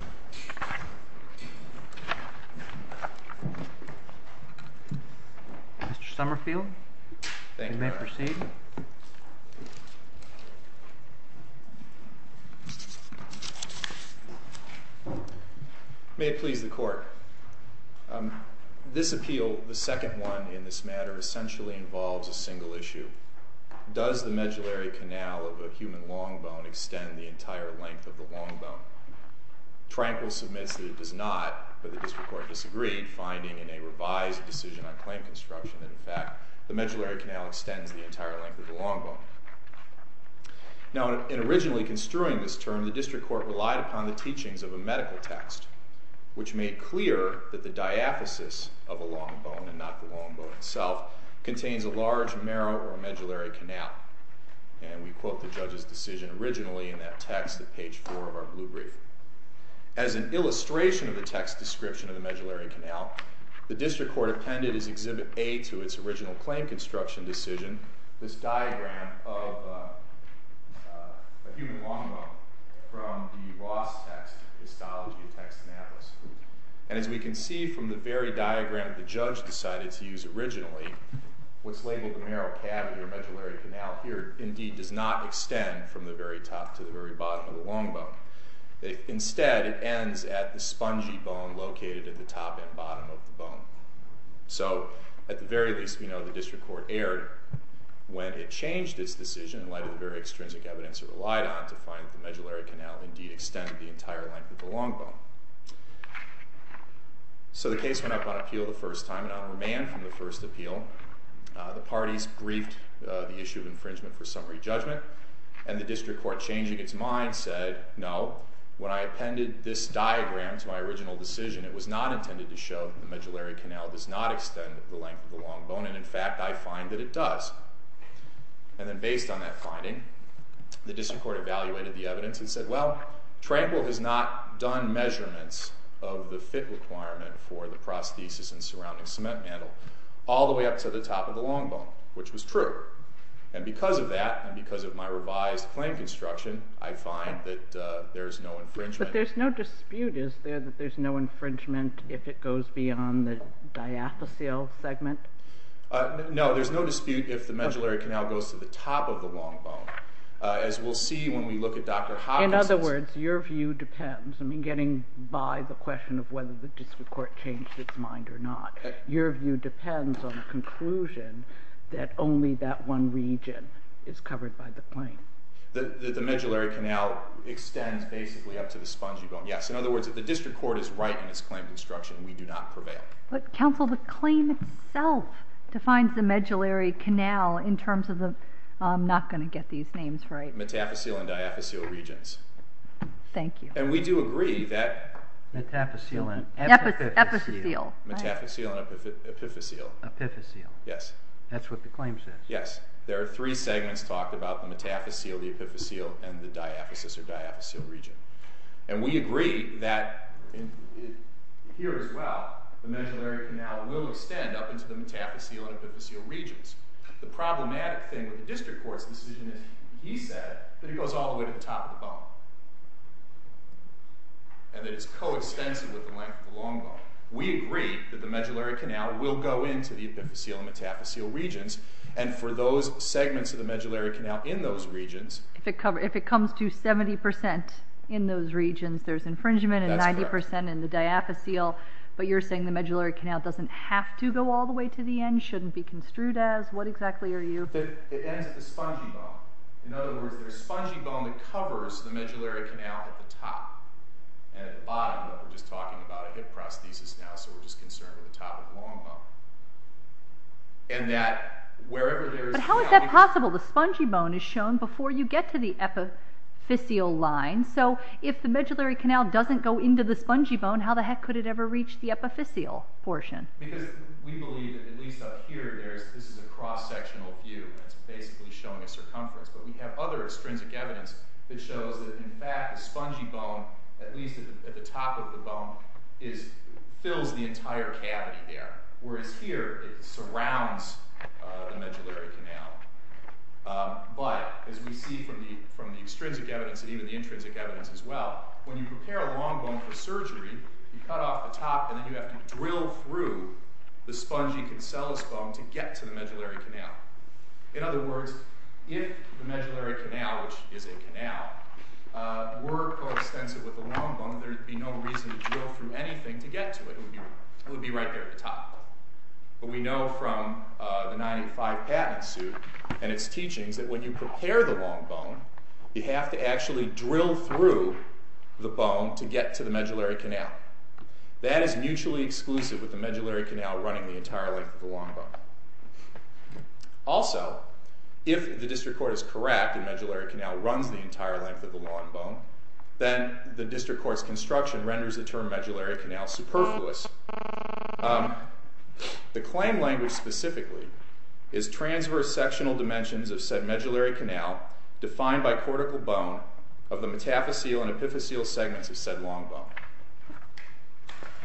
Mr. Somerfield, you may proceed. May it please the Court. This appeal, the second one in this matter, essentially involves a single issue. Does the medullary canal of a human long bone extend the entire length of the long bone? Tranquil submits that it does not, but the District Court disagreed, finding in a revised decision on claim construction that, in fact, the medullary canal extends the entire length of the long bone. Now in originally construing this term, the District Court relied upon the teachings of a medical text, which made clear that the diaphysis of a long bone, and not the long bone itself, contains a large marrow or a medullary canal. And we quote the judge's decision originally in that text at page four of our blue brief. As an illustration of the text's description of the medullary canal, the District Court appended as Exhibit A to its original claim construction decision, this diagram of a human long bone from the Ross text, Histology of Texanapolis. And as we can see from the very diagram the judge decided to use originally, what's labeled the marrow cavity or medullary canal here indeed does not extend from the very top to the very bottom of the long bone. Instead it ends at the spongy bone located at the top and bottom of the bone. So at the very least, we know the District Court erred when it changed its decision in light of the very extrinsic evidence it relied on to find that the medullary canal indeed extended the entire length of the long bone. So the case went up on appeal the first time, and on remand from the first appeal, the parties briefed the issue of infringement for summary judgment, and the District Court changing its mind said, no, when I appended this diagram to my original decision, it was not intended to show the medullary canal does not extend the length of the long bone, and in fact I find that it does. And then based on that finding, the District Court evaluated the evidence and said, well, Tranquil has not done measurements of the fit requirement for the prosthesis and surrounding cement mantle all the way up to the top of the long bone, which was true. And because of that, and because of my revised claim construction, I find that there is no infringement. But there's no dispute, is there, that there's no infringement if it goes beyond the diathelceal segment? No, there's no dispute if the medullary canal goes to the top of the long bone. As we'll see when we look at Dr. Hodges's- In other words, your view depends, I mean, getting by the question of whether the District Court changed its mind or not, your view depends on the conclusion that only that one region is covered by the claim. The medullary canal extends basically up to the spongy bone, yes. In other words, if the District Court is right in its claim construction, we do not prevail. But counsel, the claim itself defines the medullary canal in terms of the, I'm not going to get these names right- Metathecial and diathecial regions. Thank you. And we do agree that- Metathecial and epithecial. Metathecial and epithecial. Epithecial. Yes. That's what the claim says. Yes. There are three segments talked about, the metathecial, the epithecial, and the diathesis or diathecial region. And we agree that here as well, the medullary canal will extend up into the metathecial and epithecial regions. The problematic thing with the District Court's decision is he said that it goes all the way to the top of the bone and that it's coextensive with the length of the long bone. We agree that the medullary canal will go into the epithecial and metathecial regions and for those segments of the medullary canal in those regions- If it comes to 70% in those regions, there's infringement and 90% in the diathecial, but you're saying the medullary canal doesn't have to go all the way to the end, shouldn't it be construed as? What exactly are you- It ends at the spongy bone. In other words, there's spongy bone that covers the medullary canal at the top and at the bottom, but we're just talking about a hip prosthesis now, so we're just concerned with the top of the long bone. And that wherever there is- But how is that possible? The spongy bone is shown before you get to the epithecial line. So if the medullary canal doesn't go into the spongy bone, how the heck could it ever reach the epithecial portion? Because we believe, at least up here, this is a cross-sectional view, and it's basically showing a circumference. But we have other extrinsic evidence that shows that, in fact, the spongy bone, at least at the top of the bone, fills the entire cavity there, whereas here it surrounds the medullary canal. But, as we see from the extrinsic evidence and even the intrinsic evidence as well, when you prepare a long bone for surgery, you cut off the top and then you have to drill through the medullary canal. In other words, if the medullary canal, which is a canal, were co-extensive with the long bone, there would be no reason to drill through anything to get to it. It would be right there at the top. But we know from the 1985 patent suit and its teachings that when you prepare the long bone, you have to actually drill through the bone to get to the medullary canal. That is mutually exclusive with the medullary canal running the entire length of the long bone. Also, if the district court is correct and the medullary canal runs the entire length of the long bone, then the district court's construction renders the term medullary canal superfluous. The claim language specifically is transverse sectional dimensions of said medullary canal defined by cortical bone of the metaphyseal and epiphyseal segments of said long bone.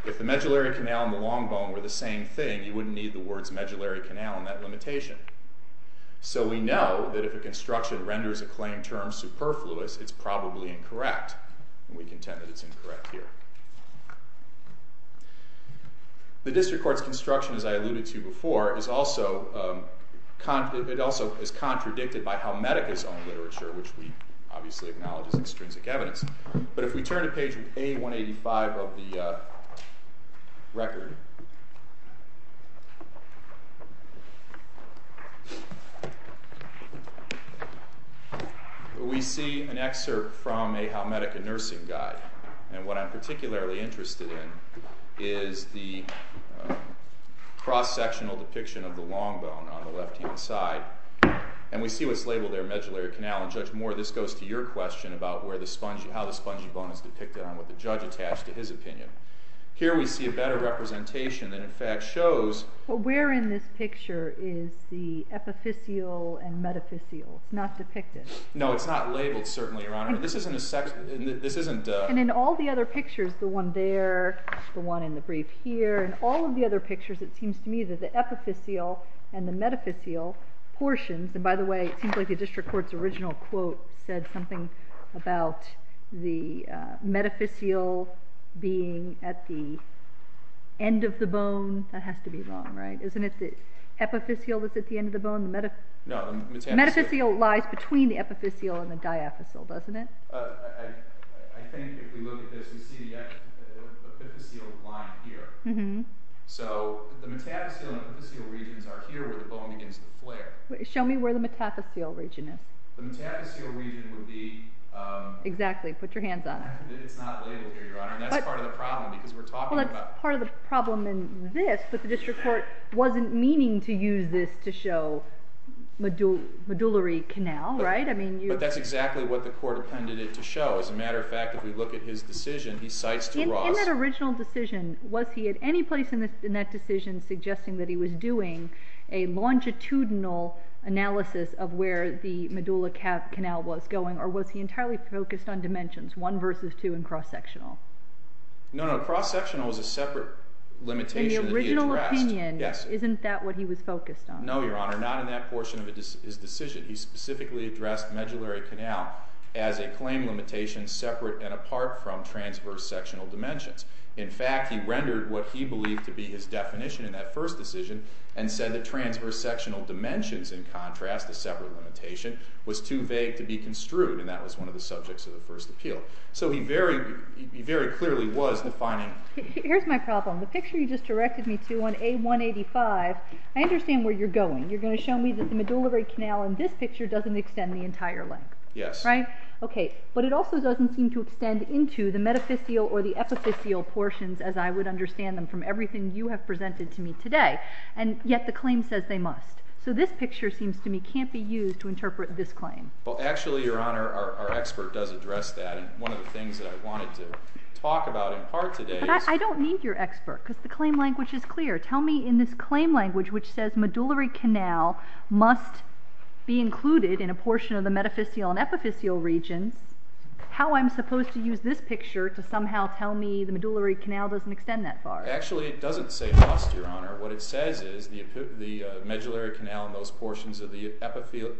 If the medullary canal and the long bone were the same thing, you wouldn't need the words medullary canal in that limitation. So we know that if a construction renders a claim term superfluous, it's probably incorrect. We contend that it's incorrect here. The district court's construction, as I alluded to before, is also contradicted by how Halmedica's own literature, which we obviously acknowledge as extrinsic evidence. But if we turn to page A185 of the record, we see an excerpt from a Halmedica nursing guide. And what I'm particularly interested in is the cross-sectional depiction of the long bone on the left-hand side. And we see what's labeled there medullary canal. And Judge Moore, this goes to your question about how the spongy bone is depicted and what the judge attached to his opinion. Here we see a better representation that in fact shows- But where in this picture is the epiphyseal and metaphyseal? It's not depicted. No, it's not labeled, certainly, Your Honor. And this isn't a- And in all the other pictures, the one there, the one in the brief here, and all of the other pictures, it seems to me that the epiphyseal and the metaphyseal portions- And by the way, it seems like the district court's original quote said something about the metaphyseal being at the end of the bone. That has to be wrong, right? Isn't it the epiphyseal that's at the end of the bone? No, the metaphyseal- The metaphyseal lies between the epiphyseal and the diaphysal, doesn't it? I think if we look at this, we see the epiphyseal line here. So the metaphyseal and epiphyseal regions are here where the bone begins to flare. Show me where the metaphyseal region is. The metaphyseal region would be- Exactly, put your hands on it. It's not labeled here, Your Honor, and that's part of the problem, because we're talking about- Well, that's part of the problem in this, but the district court wasn't meaning to use this to show medullary canal, right? But that's exactly what the court appended it to show. As a matter of fact, if we look at his decision, he cites de Ross- In that original decision, was he at any place in that decision suggesting that he was doing a longitudinal analysis of where the medulla cap canal was going, or was he entirely focused on dimensions, one versus two and cross-sectional? No, no, cross-sectional was a separate limitation that he addressed- In the original opinion, isn't that what he was focused on? No, Your Honor, not in that portion of his decision. He specifically addressed medullary canal as a claim limitation separate and apart from transverse sectional dimensions. In fact, he rendered what he believed to be his definition in that first decision, and said that transverse sectional dimensions, in contrast to separate limitation, was too vague to be construed, and that was one of the subjects of the first appeal. So he very clearly was defining- Here's my problem. The picture you just directed me to on A185, I understand where you're going. You're going to show me that the medullary canal in this picture doesn't extend the entire length, right? Yes. Okay, but it also doesn't seem to extend into the metaphysial or the epiphysial portions, as I would understand them from everything you have presented to me today, and yet the claim says they must. So this picture seems to me can't be used to interpret this claim. Well, actually, Your Honor, our expert does address that, and one of the things that I wanted to talk about in part today is- But I don't need your expert, because the claim language is clear. Tell me in this claim language, which says medullary canal must be included in a portion of the metaphysial and epiphysial regions, how I'm supposed to use this picture to somehow tell me the medullary canal doesn't extend that far? Actually, it doesn't say must, Your Honor. What it says is the medullary canal and those portions of the epiphysial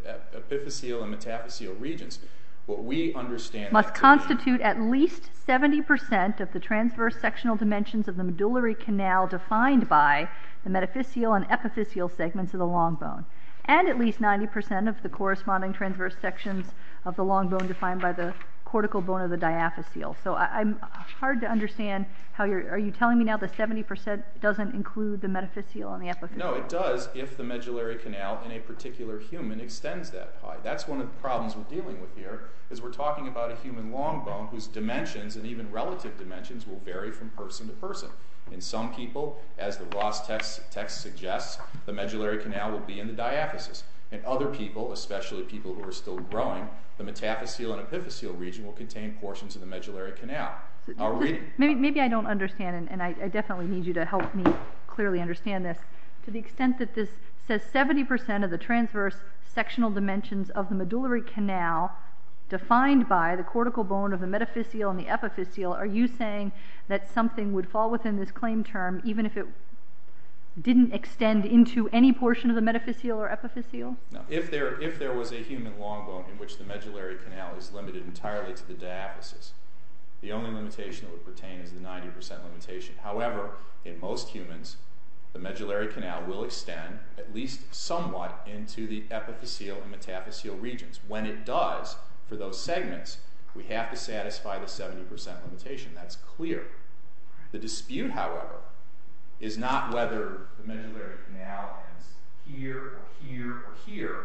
and metaphysial regions, what we understand- Must constitute at least 70% of the transverse sectional dimensions of the medullary canal defined by the metaphysial and epiphysial segments of the long bone, and at least 90% of the corresponding transverse sections of the long bone defined by the cortical bone of the diaphysial. So I'm hard to understand how you're- Are you telling me now that 70% doesn't include the metaphysial and the epiphysial? No, it does if the medullary canal in a particular human extends that high. That's one of the problems we're dealing with here, is we're talking about a human long bone whose dimensions, and even relative dimensions, will vary from person to person. In some people, as the Ross text suggests, the medullary canal will be in the diaphysis. In other people, especially people who are still growing, the metaphyseal and epiphysial region will contain portions of the medullary canal. Maybe I don't understand, and I definitely need you to help me clearly understand this. To the extent that this says 70% of the transverse sectional dimensions of the medullary canal defined by the cortical bone of the metaphyseal and the epiphysial, are you saying that something would fall within this claim term even if it didn't extend into any portion of the metaphyseal or epiphysial? No. If there was a human long bone in which the medullary canal is limited entirely to the diaphysis, the only limitation it would pertain is the 90% limitation. However, in most humans, the medullary canal will extend, at least somewhat, into the epiphysial and metaphyseal regions. When it does, for those segments, we have to satisfy the 70% limitation. That's clear. The dispute, however, is not whether the medullary canal ends here or here or here.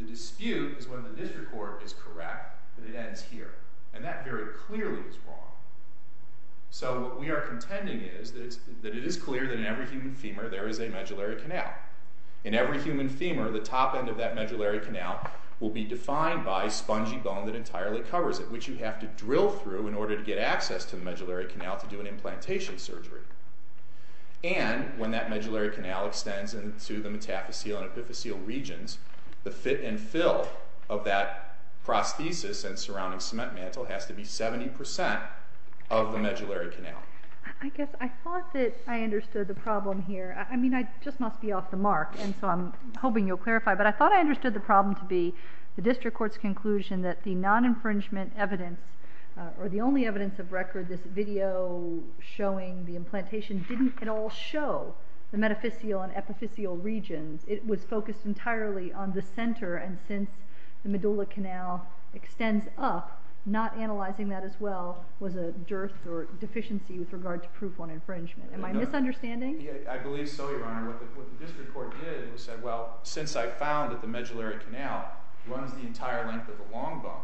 The dispute is when the district court is correct that it ends here. And that very clearly is wrong. So what we are contending is that it is clear that in every human femur there is a medullary canal. In every human femur, the top end of that medullary canal will be defined by a spongy bone that entirely covers it, which you have to drill through in order to get access to the medullary canal to do an implantation surgery. And when that medullary canal extends into the metaphyseal and epiphysial regions, the fit and fill of that prosthesis and surrounding cement mantle has to be 70% of the medullary canal. I guess I thought that I understood the problem here. I mean, I just must be off the mark, and so I'm hoping you'll clarify. But I thought I understood the problem to be the district court's conclusion that the non-infringement evidence, or the only evidence of record, this video showing the implantation, didn't at all show the metaphyseal and epiphyseal regions. It was focused entirely on the center, and since the medullary canal extends up, not analyzing that as well was a dearth or deficiency with regard to proof on infringement. Am I misunderstanding? I believe so, Your Honor. What the district court did was say, well, since I found that the medullary canal runs the entire length of the long bone,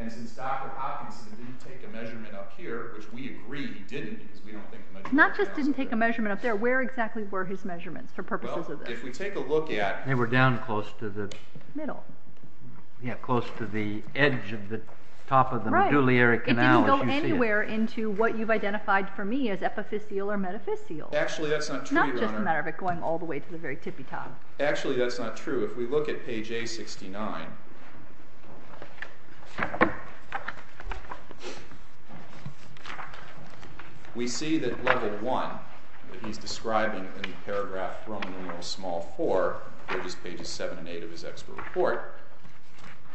and since Dr. Hopkins didn't take a measurement up here, which we agree he didn't because we don't think the medullary canal is there. Not just didn't take a measurement up there. Where exactly were his measurements for purposes of this? Well, if we take a look at— They were down close to the— Middle. Yeah, close to the edge of the top of the medullary canal, as you see it. It didn't go anywhere into what you've identified for me as epiphyseal or metaphyseal. Actually, that's not true, Your Honor. Not just a matter of it going all the way to the very tippy top. Actually, that's not true. If we look at page A69, we see that level 1 that he's describing in the paragraph Roman numeral small 4, which is pages 7 and 8 of his expert report—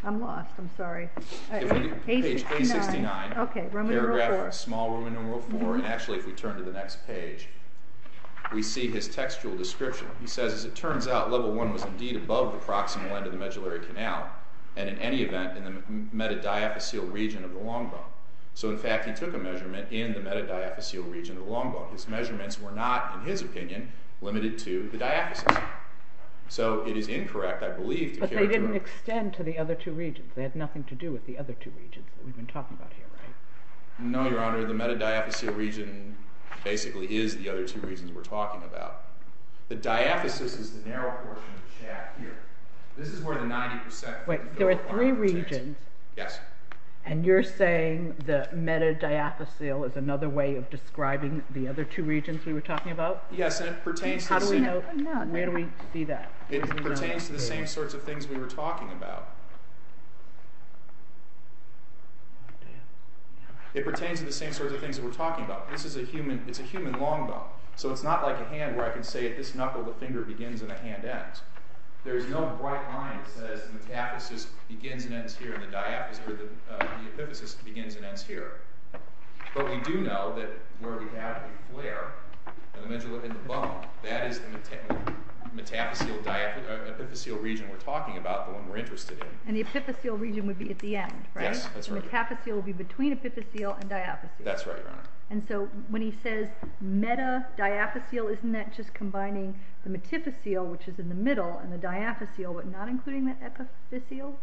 I'm lost. I'm sorry. Page A69, paragraph small Roman numeral 4, and actually if we turn to the next page, we see his textual description. He says, as it turns out, level 1 was indeed above the proximal end of the medullary canal, and in any event in the metadiaphyseal region of the long bone. So, in fact, he took a measurement in the metadiaphyseal region of the long bone. His measurements were not, in his opinion, limited to the diaphysis. So it is incorrect, I believe, to— But they didn't extend to the other two regions. They had nothing to do with the other two regions that we've been talking about here, right? No, Your Honor. The metadiaphyseal region basically is the other two regions we're talking about. The diaphysis is the narrow portion of the shaft here. This is where the 90%— Wait, there are three regions? Yes. And you're saying the metadiaphyseal is another way of describing the other two regions we were talking about? Yes, and it pertains to— How do we know? Where do we see that? It pertains to the same sorts of things we were talking about. It pertains to the same sorts of things that we're talking about. This is a human—it's a human long bone. So it's not like a hand where I can say at this knuckle the finger begins and the hand ends. There is no bright line that says the metaphyseal begins and ends here, and the epiphysis begins and ends here. But we do know that where we have a flare in the bone, that is the metaphyseal region we're talking about, the one we're interested in. And the epiphyseal region would be at the end, right? Yes, that's right. The metaphyseal would be between epiphyseal and diaphyseal. That's right, Your Honor. And so when he says metadiaphyseal, isn't that just combining the metiphyseal, which is in the middle, and the diaphyseal, but not including the epiphyseal?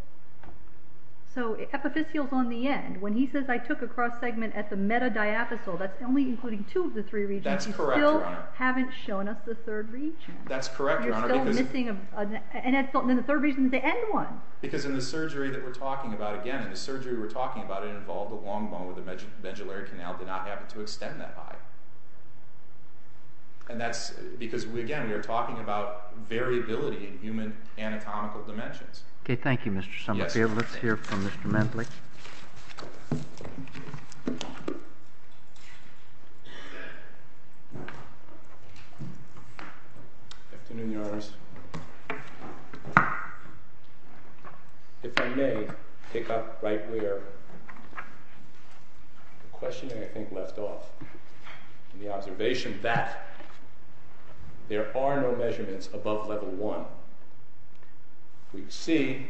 So epiphyseal is on the end. When he says, I took a cross-segment at the metadiaphyseal, that's only including two of the three regions. That's correct, Your Honor. You still haven't shown us the third region. That's correct, Your Honor, because— You're still missing a—and the third region is the end one. Because in the surgery that we're talking about, again, the surgery we're talking about involved the long bone with the medullary canal did not happen to extend that high. And that's because, again, we are talking about variability in human anatomical dimensions. Okay, thank you, Mr. Somerville. Afternoon, Your Honors. If I may pick up right where the question, I think, left off. The observation that there are no measurements above level one. We see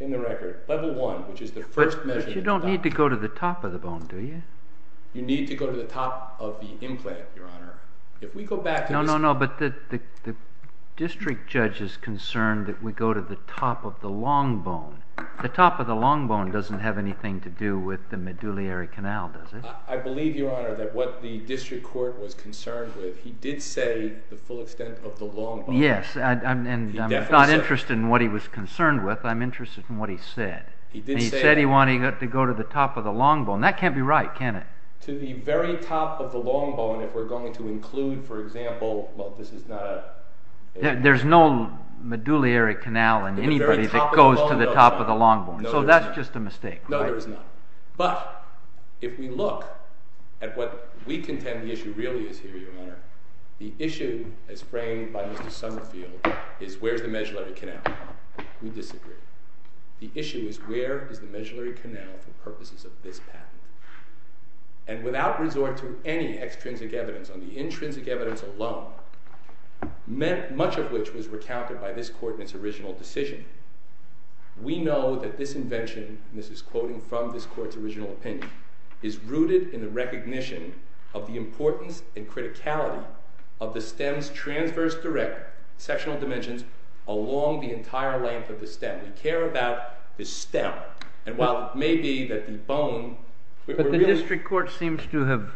in the record level one, which is the first measurement— But you don't need to go to the top of the bone, do you? You need to go to the top of the implant, Your Honor. If we go back to this— No, no, no, but the district judge is concerned that we go to the top of the long bone. The top of the long bone doesn't have anything to do with the medullary canal, does it? I believe, Your Honor, that what the district court was concerned with, he did say the full extent of the long bone. Yes, and I'm not interested in what he was concerned with. I'm interested in what he said. He did say— He said he wanted to go to the top of the long bone. That can't be right, can it? To the very top of the long bone, if we're going to include, for example— Well, this is not a— There's no medullary canal in anybody that goes to the top of the long bone. So that's just a mistake, right? No, there is not. But if we look at what we contend the issue really is here, Your Honor, the issue as framed by Mr. Summerfield is where's the medullary canal. We disagree. The issue is where is the medullary canal for purposes of this patent. And without resort to any extrinsic evidence, on the intrinsic evidence alone, much of which was recounted by this court in its original decision, we know that this invention— and this is quoting from this court's original opinion— is rooted in the recognition of the importance and criticality of the stem's transverse direct sectional dimensions along the entire length of the stem. We care about the stem. And while it may be that the bone— But the district court seems to have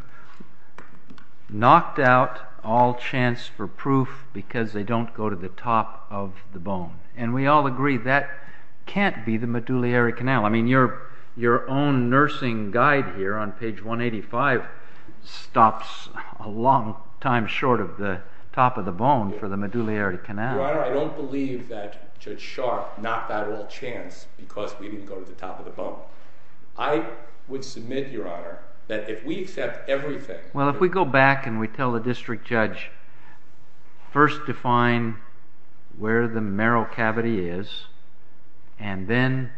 knocked out all chance for proof because they don't go to the top of the bone. And we all agree that can't be the medullary canal. I mean, your own nursing guide here on page 185 stops a long time short of the top of the bone for the medullary canal. Your Honor, I don't believe that Judge Sharp knocked out all chance because we didn't go to the top of the bone. I would submit, Your Honor, that if we accept everything— Well, if we go back and we tell the district judge, first define where the marrow cavity is, and then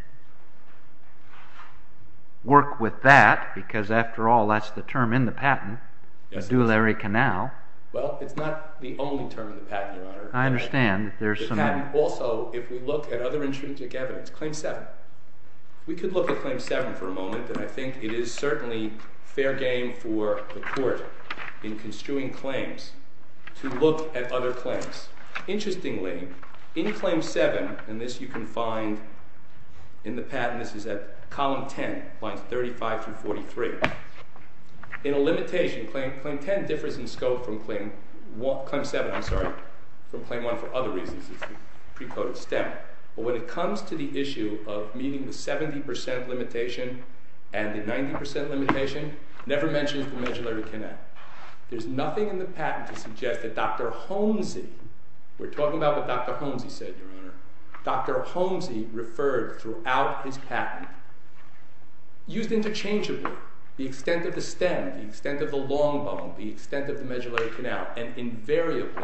work with that, because after all, that's the term in the patent, medullary canal. Well, it's not the only term in the patent, Your Honor. I understand. The patent also, if we look at other intrinsic evidence, claim 7. We could look at claim 7 for a moment, and I think it is certainly fair game for the court in construing claims to look at other claims. Interestingly, in claim 7, and this you can find in the patent. This is at column 10, lines 35 through 43. In a limitation, claim 10 differs in scope from claim 7. I'm sorry, from claim 1 for other reasons. It's the precoded stem. But when it comes to the issue of meeting the 70% limitation and the 90% limitation, never mention the medullary canal. There's nothing in the patent to suggest that Dr. Holmesy— we're talking about what Dr. Holmesy said, Your Honor. Dr. Holmesy referred throughout his patent, used interchangeably the extent of the stem, the extent of the long bone, the extent of the medullary canal, and invariably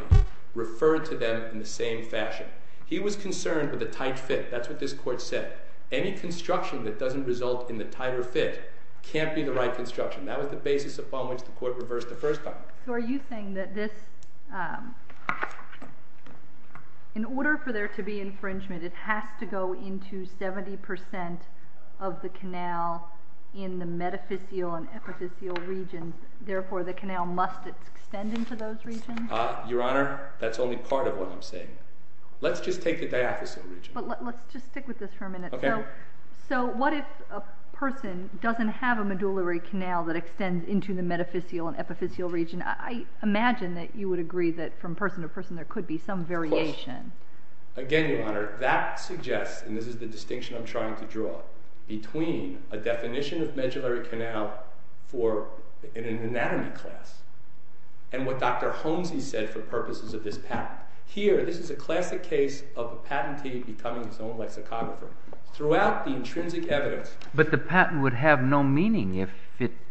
referred to them in the same fashion. He was concerned with the tight fit. That's what this court said. Any construction that doesn't result in the tighter fit can't be the right construction. That was the basis upon which the court reversed the first time. So are you saying that this— in order for there to be infringement, it has to go into 70% of the canal in the metaphysial and epiphysial regions, and therefore the canal must extend into those regions? Your Honor, that's only part of what I'm saying. Let's just take the diaphysial region. But let's just stick with this for a minute. So what if a person doesn't have a medullary canal that extends into the metaphysial and epiphysial region? I imagine that you would agree that from person to person there could be some variation. Again, Your Honor, that suggests— and this is the distinction I'm trying to draw— between a definition of medullary canal for an anatomy class and what Dr. Holmesy said for purposes of this patent. Here, this is a classic case of a patentee becoming his own lexicographer. Throughout the intrinsic evidence— But the patent would have no meaning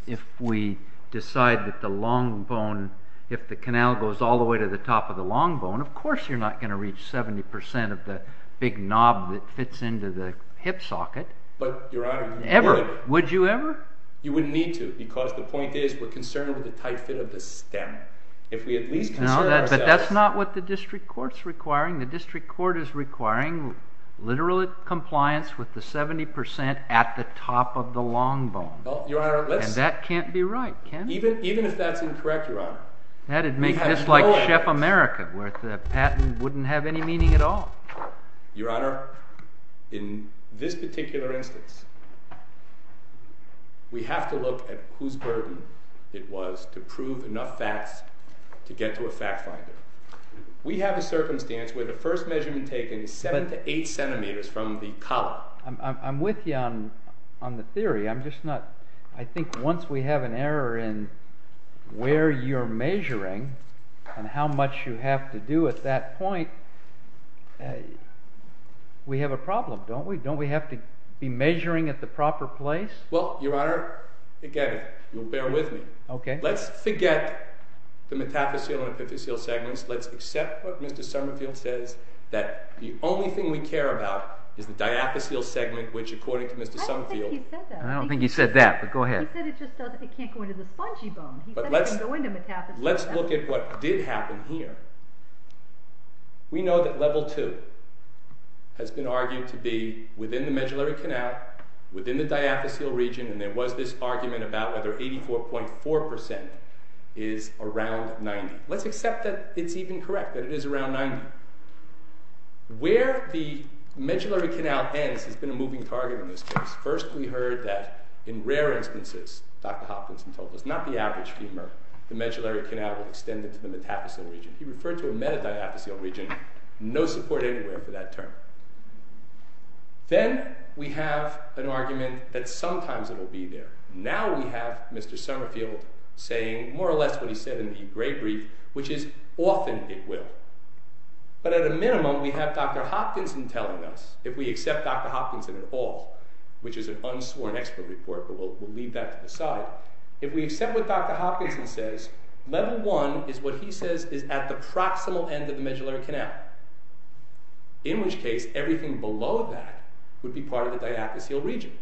if we decide that the long bone— if the canal goes all the way to the top of the long bone, of course you're not going to reach 70% of the big knob that fits into the hip socket. But, Your Honor, you would. Would you ever? You wouldn't need to because the point is we're concerned with the tight fit of the stem. If we at least concern ourselves— No, but that's not what the district court's requiring. The district court is requiring literal compliance with the 70% at the top of the long bone. Well, Your Honor, let's— And that can't be right, can it? Even if that's incorrect, Your Honor. That'd make this like Chef America where the patent wouldn't have any meaning at all. Your Honor, in this particular instance, we have to look at whose burden it was to prove enough facts to get to a fact finder. We have a circumstance where the first measurement taken is 7 to 8 centimeters from the collar. I'm with you on the theory. I'm just not—I think once we have an error in where you're measuring and how much you have to do at that point, we have a problem, don't we? Don't we have to be measuring at the proper place? Well, Your Honor, forget it. You'll bear with me. Okay. Let's forget the metaphyseal and epiphyseal segments. Let's accept what Mr. Summerfield says, that the only thing we care about is the diaphyseal segment, which according to Mr. Summerfield— I don't think he said that. I don't think he said that, but go ahead. He said it just doesn't—it can't go into the spongy bone. He said it doesn't go into metaphyseal. Let's look at what did happen here. We know that level 2 has been argued to be within the medullary canal, within the diaphyseal region, and there was this argument about whether 84.4% is around 90. Let's accept that it's even correct, that it is around 90. Where the medullary canal ends has been a moving target in this case. First, we heard that in rare instances, Dr. Hopkinson told us, not the average femur, the medullary canal would extend into the metaphyseal region. He referred to a metaphyseal region. No support anywhere for that term. Then we have an argument that sometimes it will be there. Now we have Mr. Summerfield saying more or less what he said in the gray brief, which is often it will. But at a minimum, we have Dr. Hopkinson telling us, if we accept Dr. Hopkinson at all, which is an unsworn expert report, but we'll leave that to the side. If we accept what Dr. Hopkinson says, level one is what he says is at the proximal end of the medullary canal. In which case, everything below that would be part of the diaphyseal region.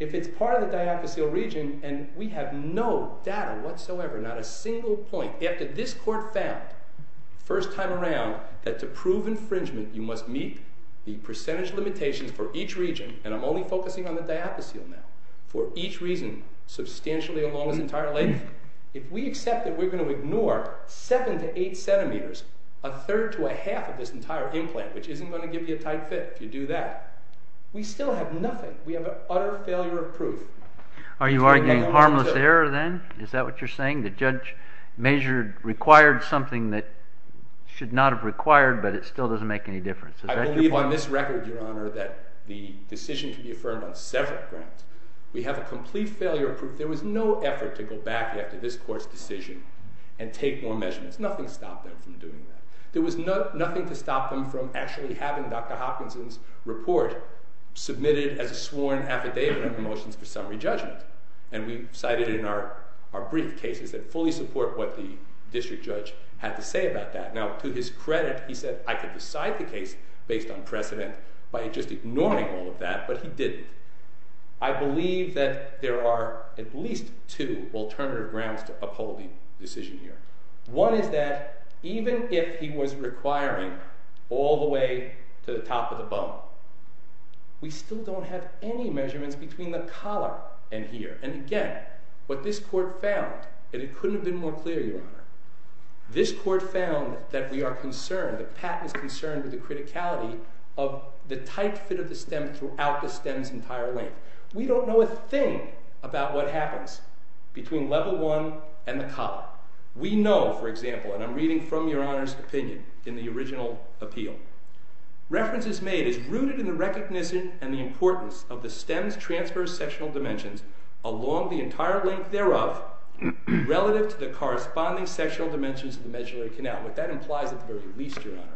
If it's part of the diaphyseal region, and we have no data whatsoever, not a single point, after this court found, first time around, that to prove infringement, you must meet the percentage limitations for each region, and I'm only focusing on the diaphyseal now, for each region substantially along its entire length, if we accept that we're going to ignore 7 to 8 centimeters, a third to a half of this entire implant, which isn't going to give you a tight fit if you do that, we still have nothing. We have an utter failure of proof. Are you arguing harmless error then? Is that what you're saying? The judge measured, required something that should not have required, but it still doesn't make any difference. Is that your point? I believe on this record, Your Honor, that the decision can be affirmed on several grounds. We have a complete failure of proof. There was no effort to go back after this court's decision and take more measurements. Nothing stopped them from doing that. There was nothing to stop them from actually having Dr. Hopkinson's report submitted as a sworn affidavit of motions for summary judgment, and we cited it in our brief cases that fully support what the district judge had to say about that. Now, to his credit, he said, I could decide the case based on precedent by just ignoring all of that, but he didn't. I believe that there are at least two alternative grounds to upholding the decision here. One is that even if he was requiring all the way to the top of the bone, we still don't have any measurements between the collar and here. And again, what this court found, and it couldn't have been more clear, Your Honor, this court found that we are concerned, that Pat is concerned with the criticality of the tight fit of the stem throughout the stem's entire length. We don't know a thing about what happens between level one and the collar. We know, for example, and I'm reading from Your Honor's opinion in the original appeal, references made is rooted in the recognition and the importance of the stem's transverse sectional dimensions along the entire length thereof relative to the corresponding sectional dimensions of the medullary canal. What that implies at the very least, Your Honor,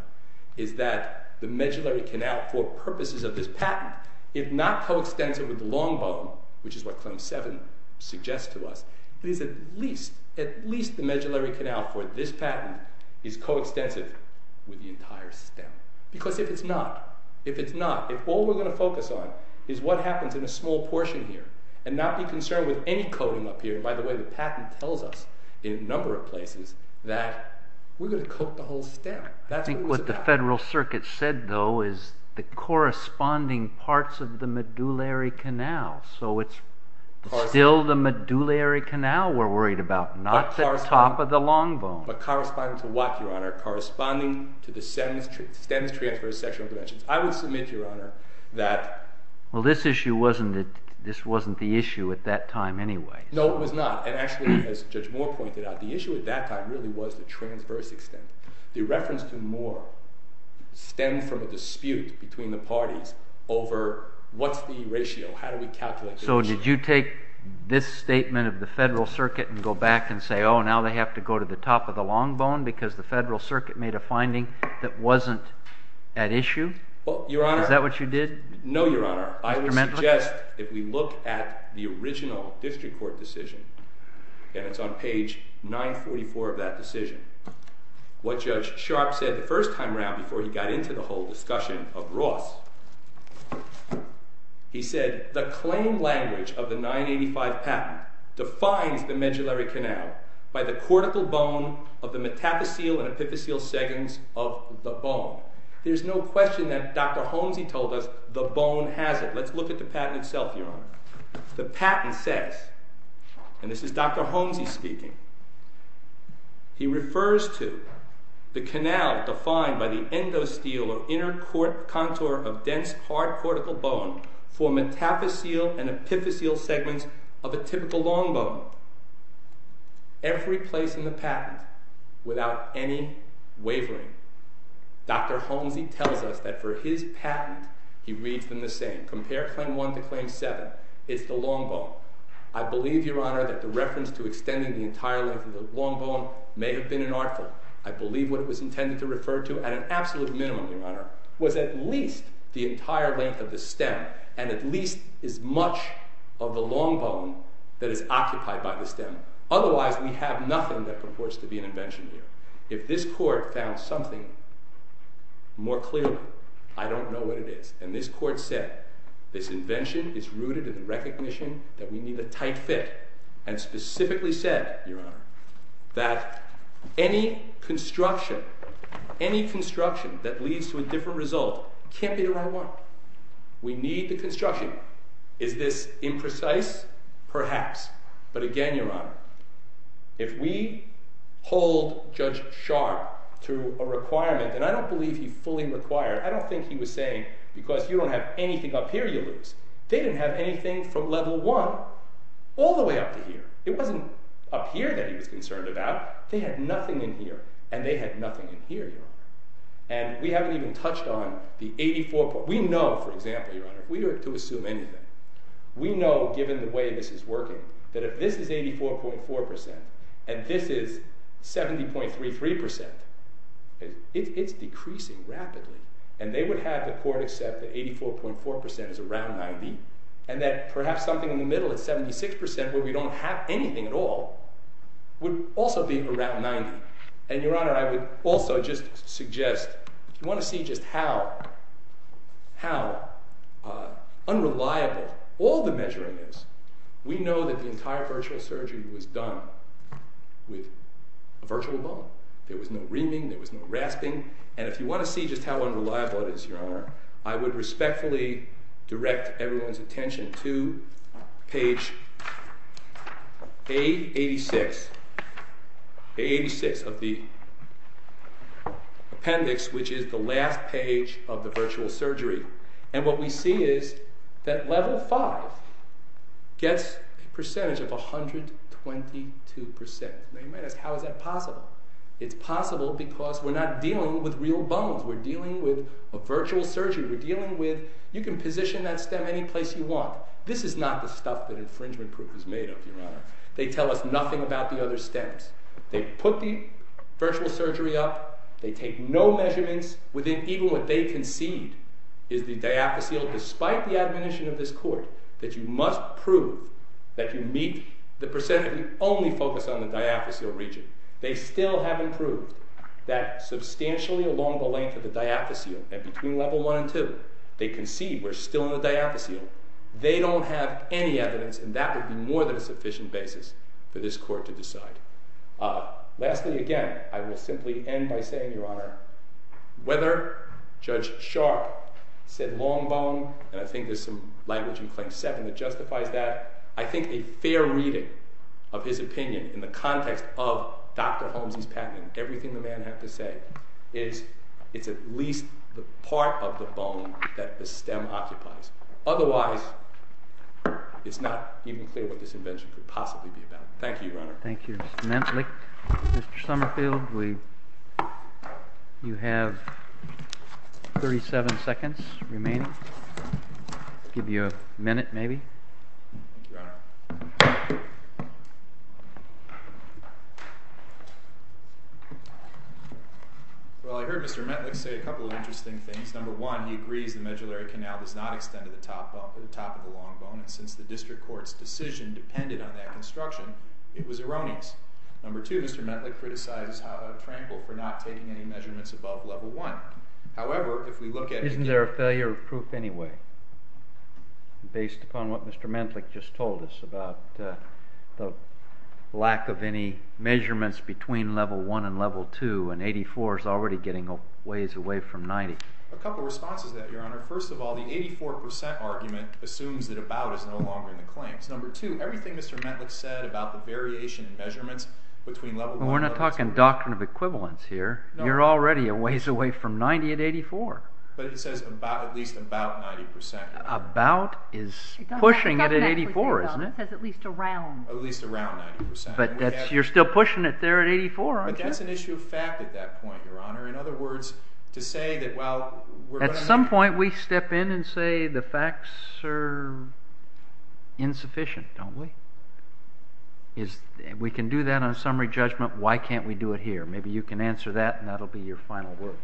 is that the medullary canal, for purposes of this patent, if not coextensive with the long bone, which is what Claim 7 suggests to us, it is at least the medullary canal for this patent is coextensive with the entire stem. Because if it's not, if all we're going to focus on is what happens in a small portion here, and not be concerned with any coating up here, and by the way, the patent tells us in a number of places that we're going to coat the whole stem. I think what the Federal Circuit said, though, is the corresponding parts of the medullary canal. So it's still the medullary canal we're worried about, not the top of the long bone. But corresponding to what, Your Honor? Corresponding to the stem's transverse sectional dimensions. I would submit, Your Honor, that Well, this issue wasn't the issue at that time anyway. No, it was not. And actually, as Judge Moore pointed out, the issue at that time really was the transverse extent. The reference to Moore stemmed from a dispute between the parties over what's the ratio, how do we calculate the ratio. So did you take this statement of the Federal Circuit and go back and say, oh, now they have to go to the top of the long bone because the Federal Circuit made a finding that wasn't at issue? Is that what you did? No, Your Honor. I would suggest if we look at the original district court decision, and it's on page 944 of that decision, what Judge Sharp said the first time around before he got into the whole discussion of Ross, he said, the claim language of the 985 patent defines the medullary canal by the cortical bone of the metaphyseal and epiphyseal segments of the bone. There's no question that Dr. Holmesie told us the bone has it. Let's look at the patent itself, Your Honor. The patent says, and this is Dr. Holmesie speaking, he refers to the canal defined by the endosteal or inner contour of dense hard cortical bone for metaphyseal and epiphyseal segments of a typical long bone. Every place in the patent, without any wavering, Dr. Holmesie tells us that for his patent, he reads them the same. Compare Claim 1 to Claim 7. It's the long bone. I believe, Your Honor, that the reference to extending the entire length of the long bone may have been an artful. I believe what it was intended to refer to at an absolute minimum, Your Honor, was at least the entire length of the stem and at least as much of the long bone that is occupied by the stem. Otherwise, we have nothing that purports to be an invention here. If this court found something more clearly, I don't know what it is. And this court said, this invention is rooted in the recognition that we need a tight fit and specifically said, Your Honor, that any construction, any construction that leads to a different result can't be the right one. We need the construction. Is this imprecise? Perhaps. But again, Your Honor, if we hold Judge Sharpe to a requirement, and I don't believe he fully required, I don't think he was saying, because you don't have anything up here you lose. They didn't have anything from level one all the way up to here. It wasn't up here that he was concerned about. They had nothing in here, and they had nothing in here, Your Honor. And we haven't even touched on the 84. We know, for example, Your Honor, we are to assume anything. We know, given the way this is working, that if this is 84.4% and this is 70.33%, it's decreasing rapidly. And they would have the court accept that 84.4% is around 90 and that perhaps something in the middle at 76%, where we don't have anything at all, would also be around 90. And, Your Honor, I would also just suggest if you want to see just how unreliable all the measuring is, we know that the entire virtual surgery was done with a virtual bone. There was no reaming. There was no rasping. And if you want to see just how unreliable it is, Your Honor, I would respectfully direct everyone's attention to page A86. A86 of the appendix, which is the last page of the virtual surgery. And what we see is that level 5 gets a percentage of 122%. Now, you might ask, how is that possible? It's possible because we're not dealing with real bones. We're dealing with a virtual surgery. We're dealing with, you can position that stem any place you want. This is not the stuff that infringement proof is made of, Your Honor. They tell us nothing about the other stems. They put the virtual surgery up. They take no measurements. Even what they concede is the diaphysial, despite the admonition of this court, that you must prove that you meet the percent of the only focus on the diaphysial region. They still haven't proved that substantially along the length of the diaphysial, and between level 1 and 2, they concede we're still in the diaphysial. They don't have any evidence, and that would be more than a sufficient basis for this court to decide. Lastly, again, I will simply end by saying, Your Honor, whether Judge Sharp said long bone, and I think there's some language in Claim 7 that justifies that, I think a fair reading of his opinion in the context of Dr. Holmes' patent and everything the man had to say, is it's at least the part of the bone that the stem occupies. Otherwise, it's not even clear what this invention could possibly be about. Thank you, Your Honor. Thank you, Mr. Mentlich. Mr. Summerfield, you have 37 seconds remaining. I'll give you a minute, maybe. Thank you, Your Honor. Well, I heard Mr. Mentlich say a couple of interesting things. Number one, he agrees the medullary canal does not extend to the top of the long bone, and since the district court's decision depended on that construction, it was erroneous. Number two, Mr. Mentlich criticizes Trample for not taking any measurements above level 1. However, if we look at... Isn't there a failure of proof anyway, based upon what Mr. Mentlich just told us about the lack of any measurements between level 1 and level 2, and 84 is already getting a ways away from 90? A couple of responses to that, Your Honor. First of all, the 84% argument assumes that about is no longer in the claims. Number two, everything Mr. Mentlich said about the variation in measurements between level 1 and level 2... We're not talking doctrine of equivalence here. You're already a ways away from 90 at 84. But it says at least about 90%. About is pushing it at 84, isn't it? It says at least around. At least around 90%. But you're still pushing it there at 84, aren't you? But that's an issue of fact at that point, Your Honor. In other words, to say that while... At some point, we step in and say the facts are insufficient, don't we? We can do that on a summary judgment. Why can't we do it here? Maybe you can answer that, and that'll be your final word.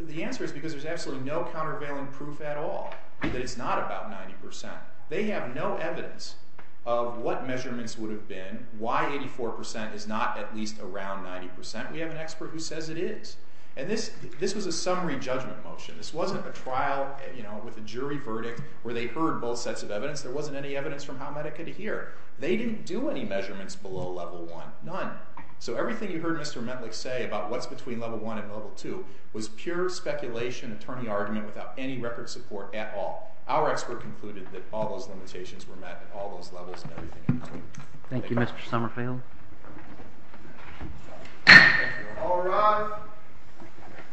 The answer is because there's absolutely no countervailing proof at all that it's not about 90%. They have no evidence of what measurements would have been, why 84% is not at least around 90%. We have an expert who says it is. And this was a summary judgment motion. This wasn't a trial with a jury verdict where they heard both sets of evidence. There wasn't any evidence from how Medica could hear. They didn't do any measurements below level 1, none. So everything you heard Mr. Mentlich say about what's between level 1 and level 2 was pure speculation, attorney argument, without any record support at all. Our expert concluded that all those limitations were met at all those levels and everything else. Thank you, Mr. Summerfield. All rise.